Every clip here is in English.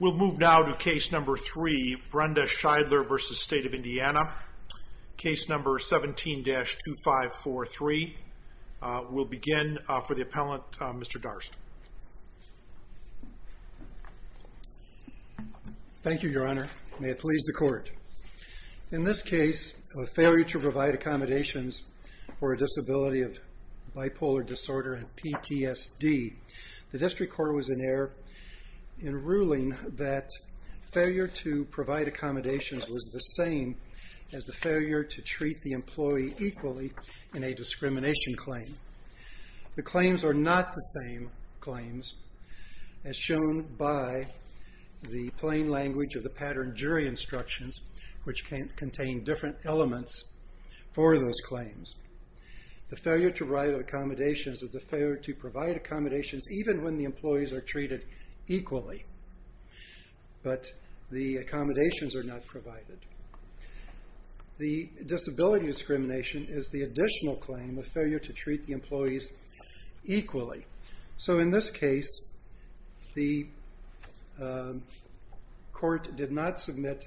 We'll move now to case number 3, Brenda Scheidler v. State of Indiana. Case number 17-2543. We'll begin for the appellant, Mr. Darst. Thank you, your honor. May it please the court. In this case, a failure to provide accommodations for a disability of bipolar disorder, PTSD. The district court was in error in ruling that failure to provide accommodations was the same as the failure to treat the employee equally in a discrimination claim. The claims are not the same claims as shown by the plain language of the pattern jury instructions, which contain different elements for those claims. The failure to provide accommodations is the failure to provide accommodations even when the employees are treated equally, but the accommodations are not provided. The disability discrimination is the additional claim of failure to treat the employees equally. So in this case, the court did not submit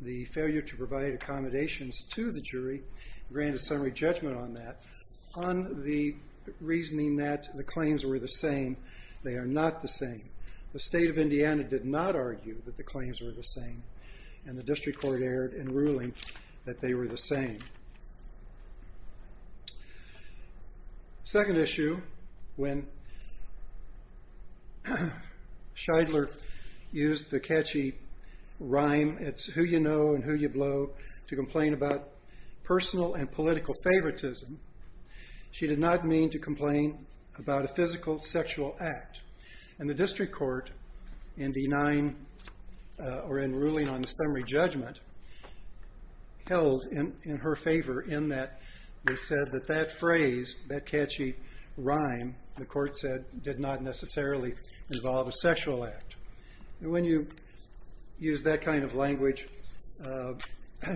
the failure to provide accommodations to the jury, granted summary judgment on that, on the reasoning that the claims were the same. They are not the same. The State of Indiana did not argue that the claims were the same, and the district court erred in ruling that they were the same. Second issue, when Scheidler used the catchy rhyme, it's who you know and who you blow, to complain about personal and political favoritism, she did not mean to complain about a physical sexual act. And the district court, in denying or in ruling on the summary judgment, held in her favor in that they said that that phrase, that catchy rhyme, the court said did not necessarily involve a sexual act. And when you use that kind of language,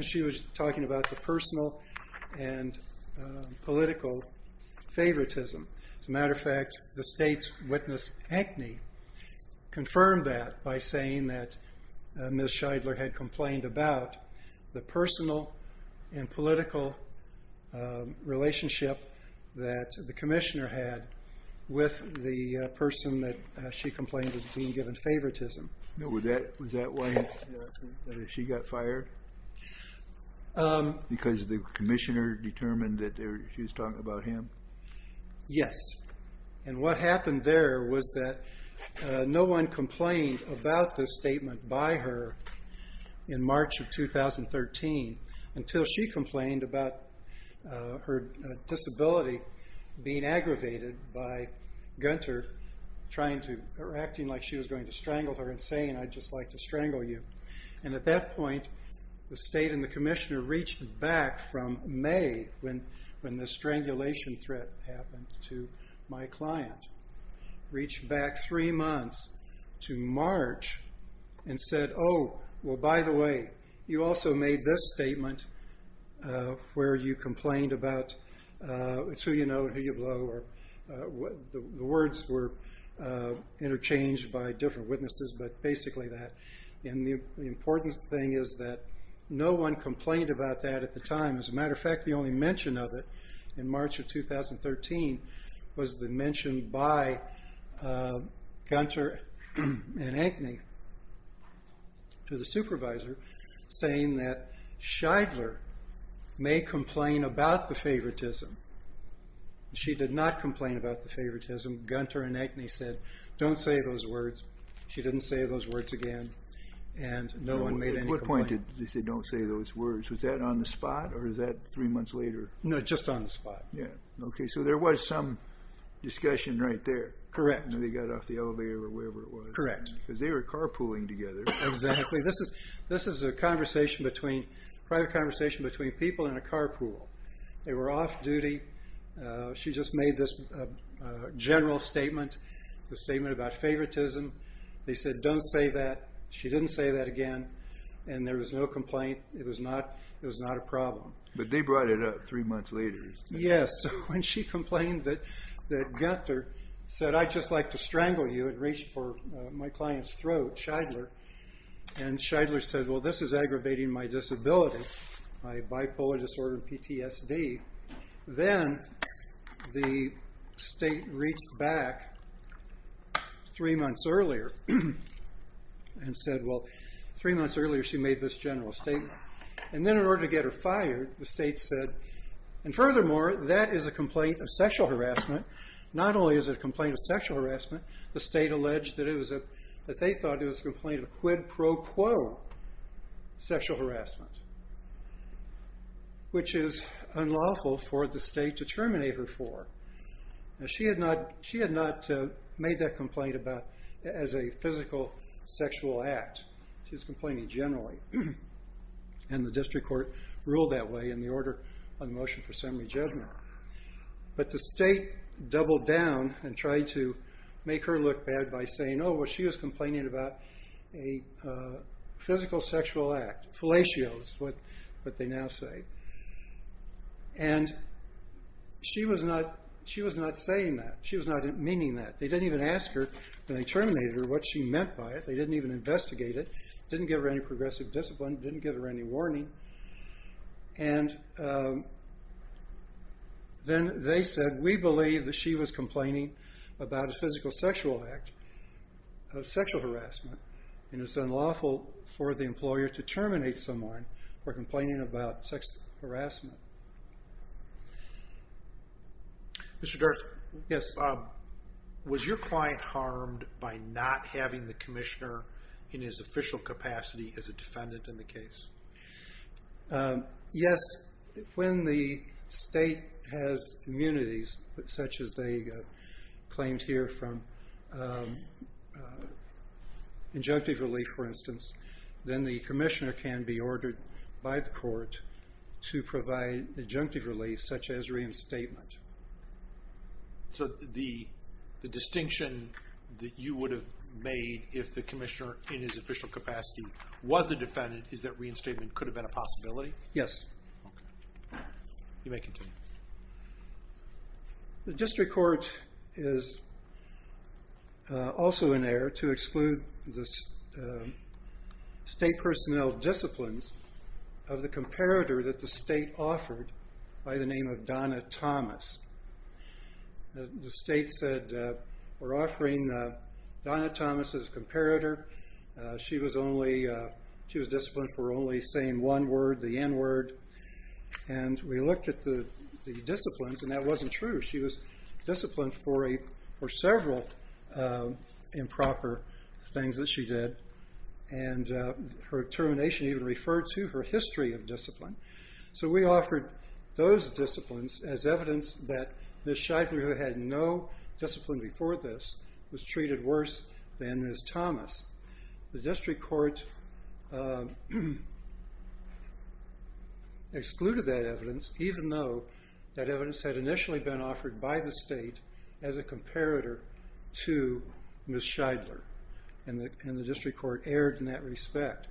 she was talking about the personal and political favoritism. As a matter of fact, the state's witness, Hackney, confirmed that by saying that Ms. Scheidler had complained about the personal and political relationship that the commissioner had with the person that she complained was being given favoritism. Was that why she got fired? Because the commissioner determined that she was talking about him? Yes. And what happened there was that no one complained about this statement by her in March of 2013, until she complained about her disability being aggravated by Gunter acting like she was going to strangle her and saying, I'd just like to strangle you. And at that point, the state and the commissioner reached back from May, when the strangulation threat happened to my client, reached back three months to March and said, oh, well, by the way, you also made this statement where you complained about it's who you know and who you blow. The words were interchanged by different witnesses, but basically that. And the important thing is that no one complained about that at the time. As a matter of fact, the only mention of it in March of 2013 was the mention by Gunter and Hackney to the supervisor, saying that Scheidler may complain about the favoritism. She did not complain about the favoritism. Gunter and Hackney said, don't say those words. She didn't say those words again. And no one made any complaint. At what point did they say, don't say those words? Was that on the spot or was that three months later? No, just on the spot. Yeah. OK. So there was some discussion right there. Correct. And they got off the elevator or wherever it was. Correct. Because they were carpooling together. Exactly. This is a conversation between, private conversation between people in a carpool. They were off duty. She just made this general statement, the statement about favoritism. They said, don't say that. She didn't say that again. And there was no complaint. It was not a problem. But they brought it up three months later. Yes. And she complained that Gunter said, I'd just like to strangle you. It reached for my client's throat, Scheidler. And Scheidler said, well, this is aggravating my disability, my bipolar disorder and PTSD. Then the state reached back three months earlier and said, well, three months earlier she made this general statement. And then in order to get her fired, the state said, and furthermore, that is a complaint of sexual harassment. Not only is it a complaint of sexual harassment, the state alleged that they thought it was a complaint of quid pro quo sexual harassment, which is unlawful for the state to terminate her for. She had not made that complaint as a physical sexual act. She was complaining generally. And the district court ruled that way in the order on motion for summary judgment. But the state doubled down and tried to make her look bad by saying, oh, well, she was complaining about a physical sexual act, fellatio is what they now say. And she was not saying that. She was not meaning that. They didn't even ask her. They terminated her. What she meant by it. They didn't even investigate it. Didn't give her any progressive discipline. Didn't give her any warning. And then they said, we believe that she was complaining about a physical sexual act of sexual harassment. And it's unlawful for the employer to terminate someone for complaining about sex harassment. Mr. Dirk. Yes. Was your client harmed by not having the commissioner in his official capacity as a defendant in the case? Yes. When the state has immunities such as they claimed here from injunctive relief, for instance, then the commissioner can be ordered by the court to provide injunctive relief such as reinstatement. So the distinction that you would have made if the commissioner in his official capacity was a defendant is that reinstatement could have been a possibility? Yes. Okay. You may continue. The district court is also in error to exclude the state personnel disciplines of the comparator that the state offered by the name of Donna Thomas. The state said we're offering Donna Thomas as a comparator. She was disciplined for only saying one word, the N word. And we looked at the disciplines and that wasn't true. She was disciplined for several improper things that she did. And her termination even referred to her history of discipline. So we offered those disciplines as evidence that Ms. Scheidler, who had no discipline before this, was treated worse than Ms. Thomas. The district court excluded that evidence even though that evidence had initially been offered by the state as a comparator to Ms. Scheidler. And the district court erred in that respect.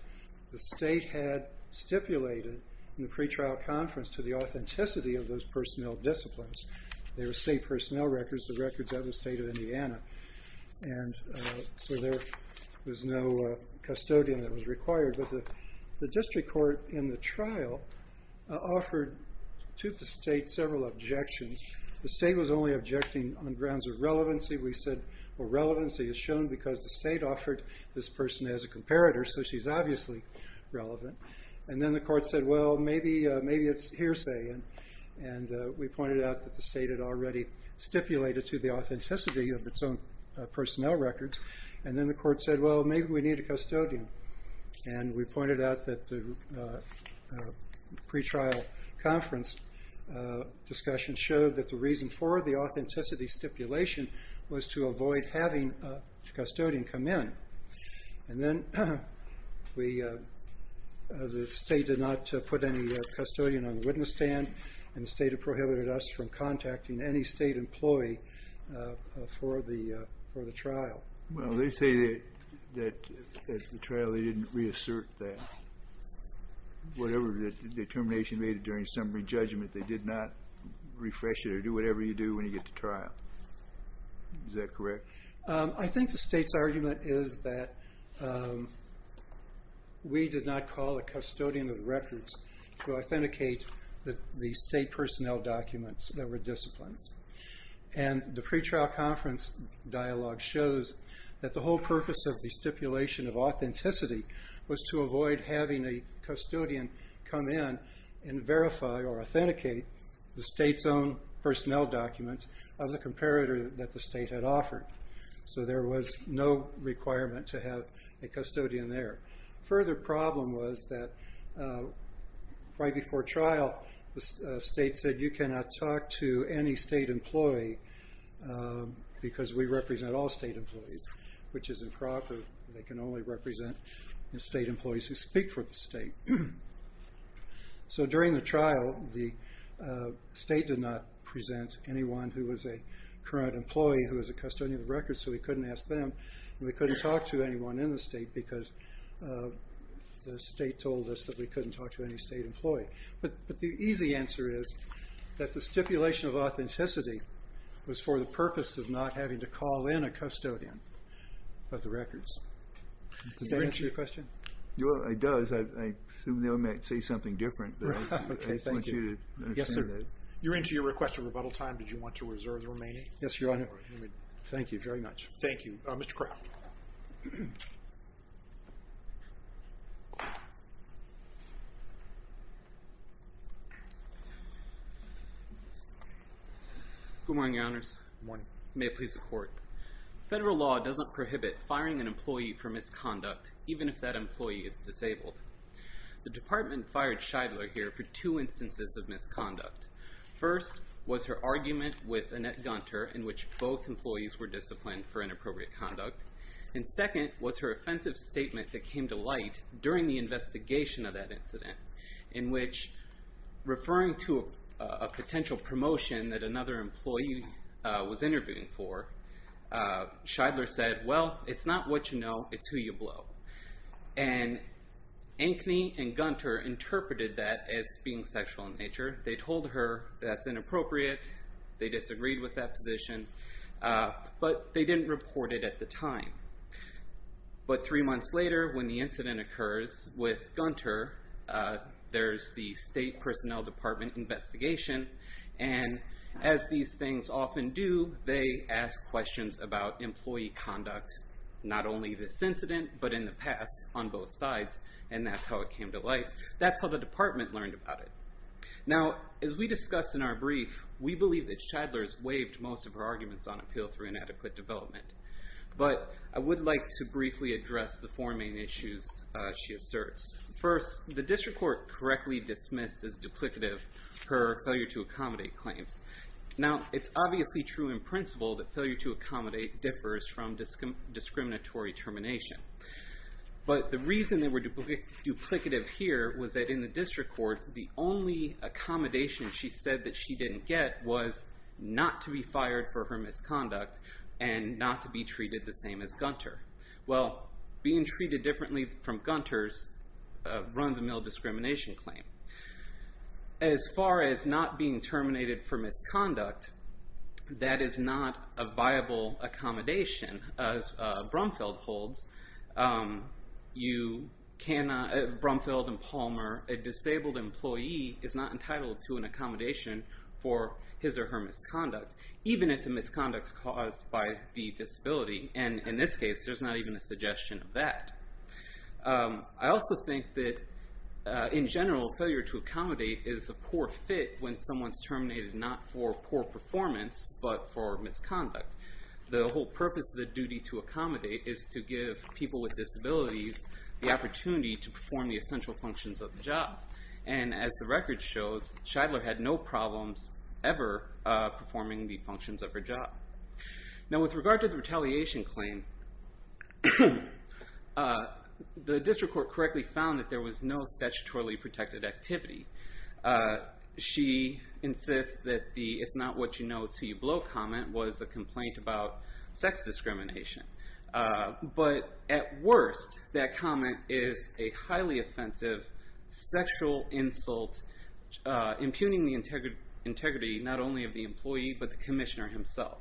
The state had stipulated in the pretrial conference to the authenticity of those personnel disciplines. They were state personnel records, the records of the state of Indiana. And so there was no custodian that was required. But the district court in the trial offered to the state several objections. The state was only objecting on grounds of relevancy. We said, well, relevancy is shown because the state offered this person as a comparator. So she's obviously relevant. And then the court said, well, maybe it's hearsay. And we pointed out that the state had already stipulated to the authenticity of its own personnel records. And then the court said, well, maybe we need a custodian. And we pointed out that the pretrial conference discussion showed that the reason for the authenticity stipulation was to avoid having a custodian come in. And then the state did not put any custodian on the witness stand. And the state had prohibited us from contacting any state employee for the trial. Well, they say that the trial, they didn't reassert that. Whatever the determination made during summary judgment, they did not refresh it or do whatever you do when you get to trial. Is that correct? I think the state's argument is that we did not call a custodian of records to authenticate the state personnel documents that were disciplines. And the pretrial conference dialogue shows that the whole purpose of the stipulation of authenticity was to avoid having a custodian come in and verify or authenticate the state's own personnel documents of the comparator that the state had offered. So there was no requirement to have a custodian there. Further problem was that right before trial, the state said you cannot talk to any state employee because we represent all state employees, which is improper. They can only represent the state employees who speak for the state. So during the trial, the state did not present anyone who was a current employee who was a custodian of records, so we couldn't ask them and we couldn't talk to anyone in the state because the state told us that we couldn't talk to any state employee. But the easy answer is that the stipulation of authenticity was for the purpose of not having to call in a custodian of the records. Does that answer your question? It does. I assume they might say something different, but I just want you to understand that. Yes, sir. You're into your request of rebuttal time. Did you want to reserve the remaining? Yes, Your Honor. Thank you very much. Thank you. Mr. Kraft. Good morning, Your Honors. Good morning. May it please the Court. Federal law doesn't prohibit firing an employee for misconduct, even if that employee is disabled. The department fired Scheidler here for two instances of misconduct. First was her argument with Annette Gunter in which both employees were disciplined for inappropriate conduct. And second was her offensive statement that came to light during the investigation of that incident, in which referring to a potential promotion that another employee was interviewing for, Scheidler said, well, it's not what you know, it's who you blow. And Ankeny and Gunter interpreted that as being sexual in nature. They told her that's inappropriate. They disagreed with that position. But they didn't report it at the time. But three months later, when the incident occurs with Gunter, there's the State Personnel Department investigation, and as these things often do, they ask questions about employee conduct, not only this incident, but in the past on both sides, and that's how it came to light. That's how the department learned about it. Now, as we discussed in our brief, we believe that Scheidler's waived most of her arguments on appeal through inadequate development. But I would like to briefly address the four main issues she asserts. First, the district court correctly dismissed as duplicative her failure to accommodate claims. Now, it's obviously true in principle that failure to accommodate differs from discriminatory termination. But the reason they were duplicative here was that in the district court, the only accommodation she said that she didn't get was not to be fired for her misconduct and not to be treated the same as Gunter. Well, being treated differently from Gunter's run-of-the-mill discrimination claim. As far as not being terminated for misconduct, that is not a viable accommodation, as Brumfeld holds. You cannot, Brumfeld and Palmer, a disabled employee is not entitled to an accommodation for his or her misconduct, even if the misconduct's caused by the disability. And in this case, there's not even a suggestion of that. I also think that in general, failure to accommodate is a poor fit when someone's terminated not for poor performance, but for misconduct. The whole purpose of the duty to accommodate is to give people with disabilities the opportunity to perform the essential functions of the job. And as the record shows, Shidler had no problems ever performing the functions of her job. Now, with regard to the retaliation claim, the district court correctly found that there was no statutorily protected activity. She insists that the it's-not-what-you-know-it's-who-you-blow comment was a complaint about sex discrimination. But at worst, that comment is a highly offensive sexual insult impugning the integrity not only of the employee, but the commissioner himself.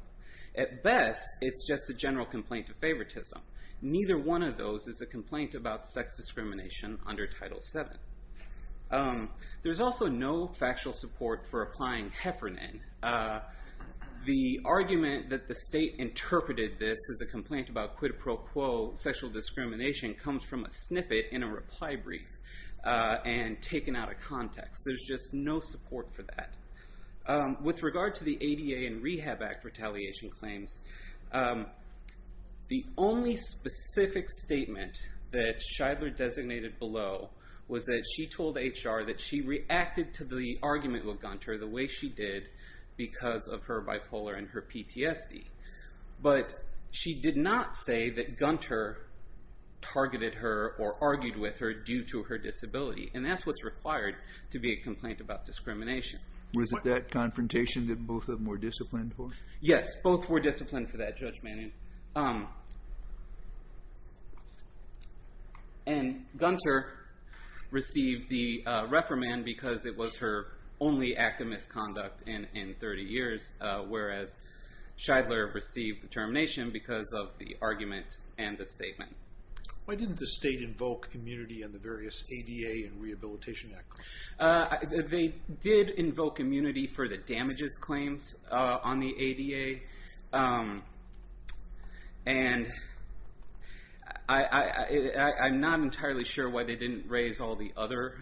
At best, it's just a general complaint of favoritism. Neither one of those is a complaint about sex discrimination under Title VII. There's also no factual support for applying Heffernan. The argument that the state interpreted this as a complaint about quid pro quo sexual discrimination comes from a snippet in a reply brief and taken out of context. There's just no support for that. With regard to the ADA and Rehab Act retaliation claims, the only specific statement that Shidler designated below was that she told HR that she reacted to the argument with Gunter the way she did because of her bipolar and her PTSD. But she did not say that Gunter targeted her or argued with her due to her disability. And that's what's required to be a complaint about discrimination. Was it that confrontation that both of them were disciplined for? Yes, both were disciplined for that judgment. And Gunter received the reprimand because it was her only act of misconduct in 30 years, whereas Shidler received the termination because of the argument and the statement. Why didn't the state invoke immunity in the various ADA and Rehabilitation Act claims? They did invoke immunity for the damages claims on the ADA. I'm not entirely sure why they didn't raise all the other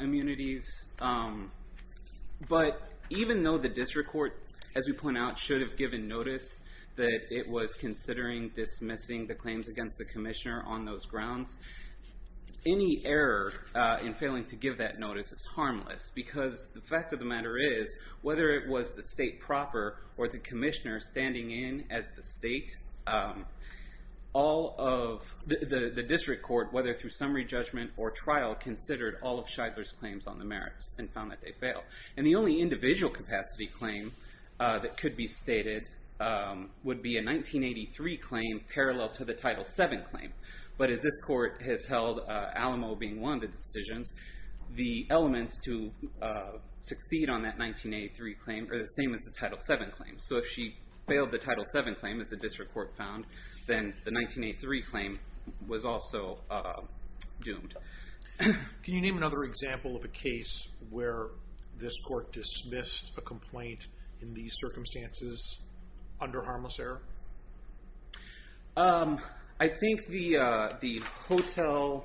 immunities. But even though the district court, as we point out, should have given notice that it was considering dismissing the claims against the commissioner on those grounds, any error in failing to give that notice is harmless. Because the fact of the matter is, whether it was the state proper or the commissioner standing in as the state, the district court, whether through summary judgment or trial, considered all of Shidler's claims on the merits and found that they failed. And the only individual capacity claim that could be stated would be a 1983 claim parallel to the Title VII claim. But as this court has held, Alamo being one of the decisions, the elements to succeed on that 1983 claim are the same as the Title VII claim. So if she failed the Title VII claim, as the district court found, then the 1983 claim was also doomed. Can you name another example of a case where this court dismissed a complaint in these circumstances under harmless error? I think the Hotel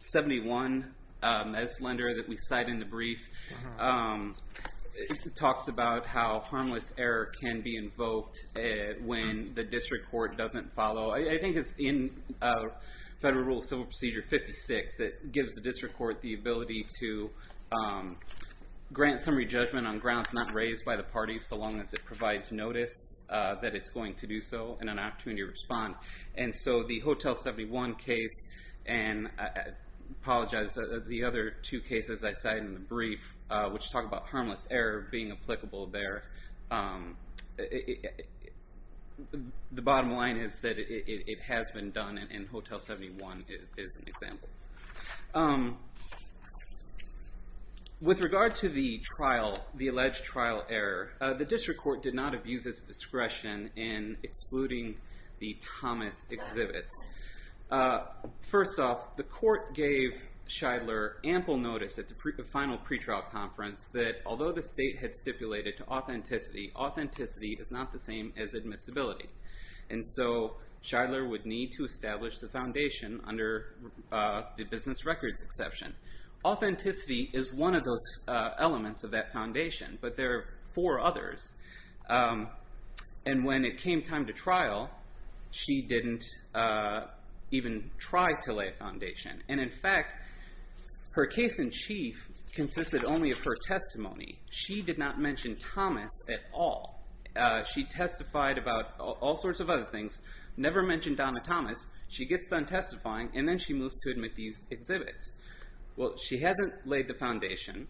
71 S lender that we cite in the brief talks about how harmless error can be invoked when the district court doesn't follow. I think it's in Federal Rule of Civil Procedure 56 that gives the district court the ability to grant summary judgment on grounds not raised by the parties, so long as it provides notice that it's going to do so and an opportunity to respond. And so the Hotel 71 case, and I apologize, the other two cases I cite in the brief, which talk about harmless error being applicable there, the bottom line is that it has been done, and Hotel 71 is an example. With regard to the alleged trial error, the district court did not abuse its discretion in excluding the Thomas exhibits. First off, the court gave Shidler ample notice at the final pretrial conference that although the state had stipulated to authenticity, authenticity is not the same as admissibility. And so Shidler would need to establish the foundation under the business records exception. Authenticity is one of those elements of that foundation, but there are four others. And when it came time to trial, she didn't even try to lay a foundation. And in fact, her case in chief consisted only of her testimony. She did not mention Thomas at all. She testified about all sorts of other things, never mentioned Donna Thomas. She gets done testifying, and then she moves to admit these exhibits. Well, she hasn't laid the foundation.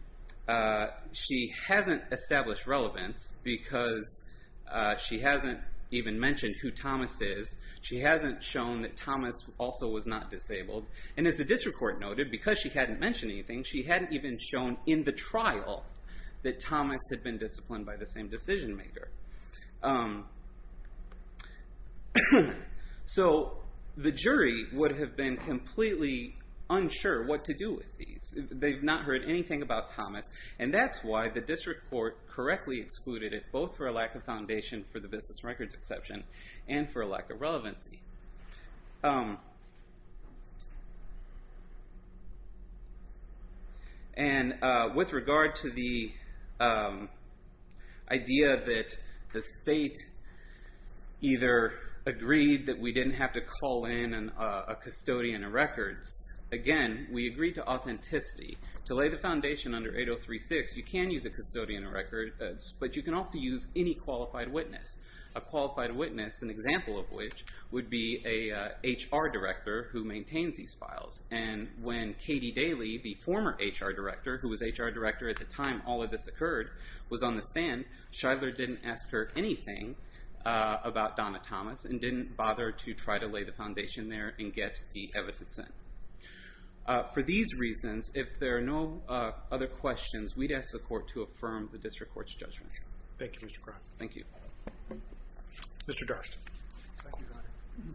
She hasn't established relevance because she hasn't even mentioned who Thomas is. She hasn't shown that Thomas also was not disabled. And as the district court noted, because she hadn't mentioned anything, she hadn't even shown in the trial that Thomas had been disciplined by the same decision maker. So the jury would have been completely unsure what to do with these. They've not heard anything about Thomas. And that's why the district court correctly excluded it, both for a lack of foundation for the business records exception and for a lack of relevancy. And with regard to the idea that the state either agreed that we didn't have to call in a custodian of records, again, we agreed to authenticity. To lay the foundation under 8036, you can use a custodian of records, but you can also use any qualified witness. A qualified witness, an example of which would be a HR director who maintains these files. And when Katie Daly, the former HR director, who was HR director at the time all of this occurred, was on the stand, Shidler didn't ask her anything about Donna Thomas and didn't bother to try to lay the foundation there and get the evidence in. For these reasons, if there are no other questions, we'd ask the court to affirm the district court's judgment. Thank you, Mr. Cronin. Thank you. Mr. Darst. Thank you, Your Honor.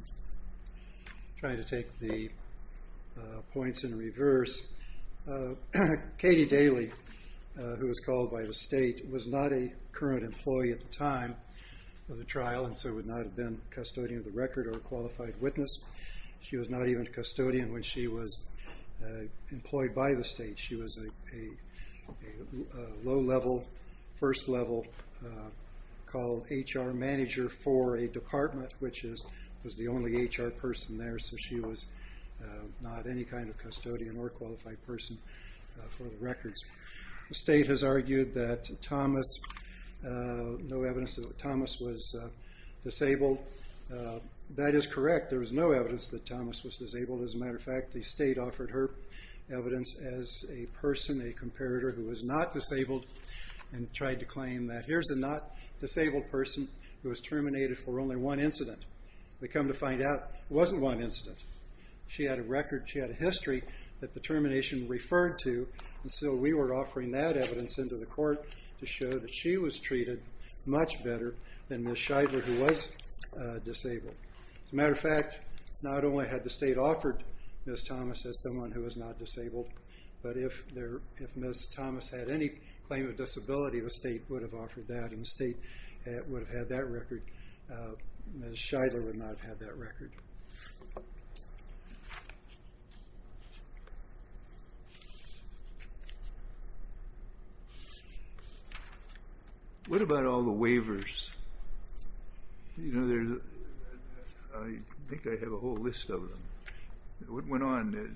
I'm trying to take the points in reverse. Katie Daly, who was called by the state, was not a current employee at the time of the trial and so would not have been a custodian of the record or a qualified witness. She was not even a custodian when she was employed by the state. She was a low-level, first-level HR manager for a department, which was the only HR person there, so she was not any kind of custodian or qualified person for the records. The state has argued that Thomas was disabled. That is correct. There was no evidence that Thomas was disabled. As a matter of fact, the state offered her evidence as a person, a comparator, who was not disabled and tried to claim that here's a not-disabled person who was terminated for only one incident. We come to find out it wasn't one incident. She had a record, she had a history that the termination referred to, and so we were offering that evidence into the court to show that she was treated much better than Ms. Scheidler, who was disabled. As a matter of fact, not only had the state offered Ms. Thomas as someone who was not disabled, but if Ms. Thomas had any claim of disability, the state would have offered that, and the state would have had that record. Ms. Scheidler would not have had that record. What about all the waivers? I think I have a whole list of them. What went on?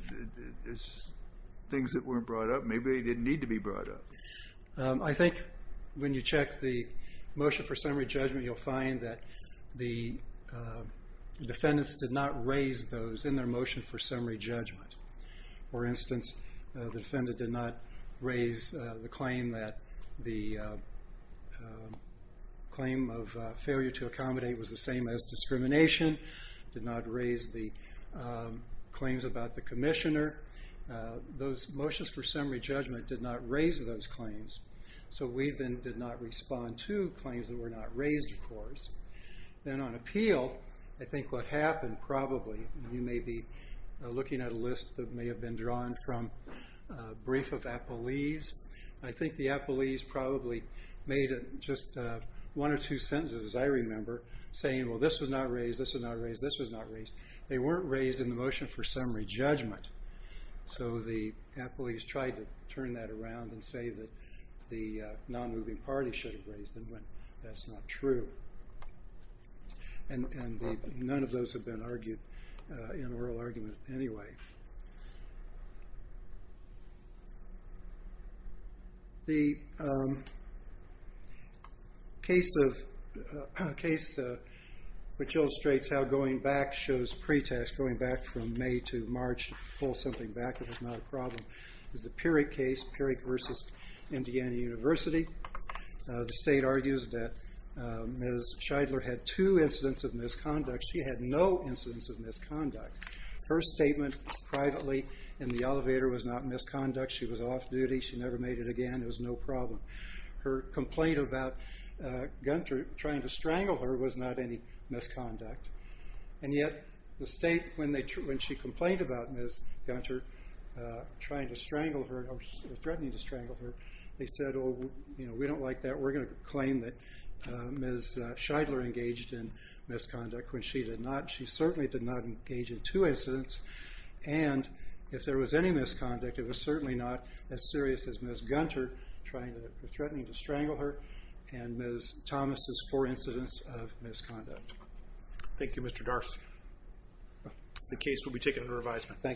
Things that weren't brought up? Maybe they didn't need to be brought up. I think when you check the motion for summary judgment, you'll find that the defendants did not raise those in their motion for summary judgment. For instance, the defendant did not raise the claim that the claim of failure to accommodate was the same as discrimination, did not raise the claims about the commissioner. Those motions for summary judgment did not raise those claims, so we then did not respond to claims that were not raised, of course. Then on appeal, I think what happened probably, you may be looking at a list that may have been drawn from a brief of appellees. I think the appellees probably made just one or two sentences, as I remember, saying, well, this was not raised, this was not raised, this was not raised. They weren't raised in the motion for summary judgment, so the appellees tried to turn that around and say that the non-moving party should have raised them, but that's not true. None of those have been argued in oral argument anyway. The case which illustrates how going back shows pretest, going back from May to March, pull something back if it's not a problem, is the Peerik case, Peerik versus Indiana University. The state argues that Ms. Scheidler had two incidents of misconduct. She had no incidents of misconduct. Her statement privately in the elevator was not misconduct. She was off duty. She never made it again. It was no problem. Her complaint about Gunther trying to strangle her was not any misconduct, and yet the state, when she complained about Ms. Gunther trying to strangle her or threatening to strangle her, they said, oh, we don't like that. We're going to claim that Ms. Scheidler engaged in misconduct when she did not. She certainly did not engage in two incidents, and if there was any misconduct, it was certainly not as serious as Ms. Gunther threatening to strangle her and Ms. Thomas' four incidents of misconduct. Thank you, Mr. Darcy. The case will be taken into revision. Thank you.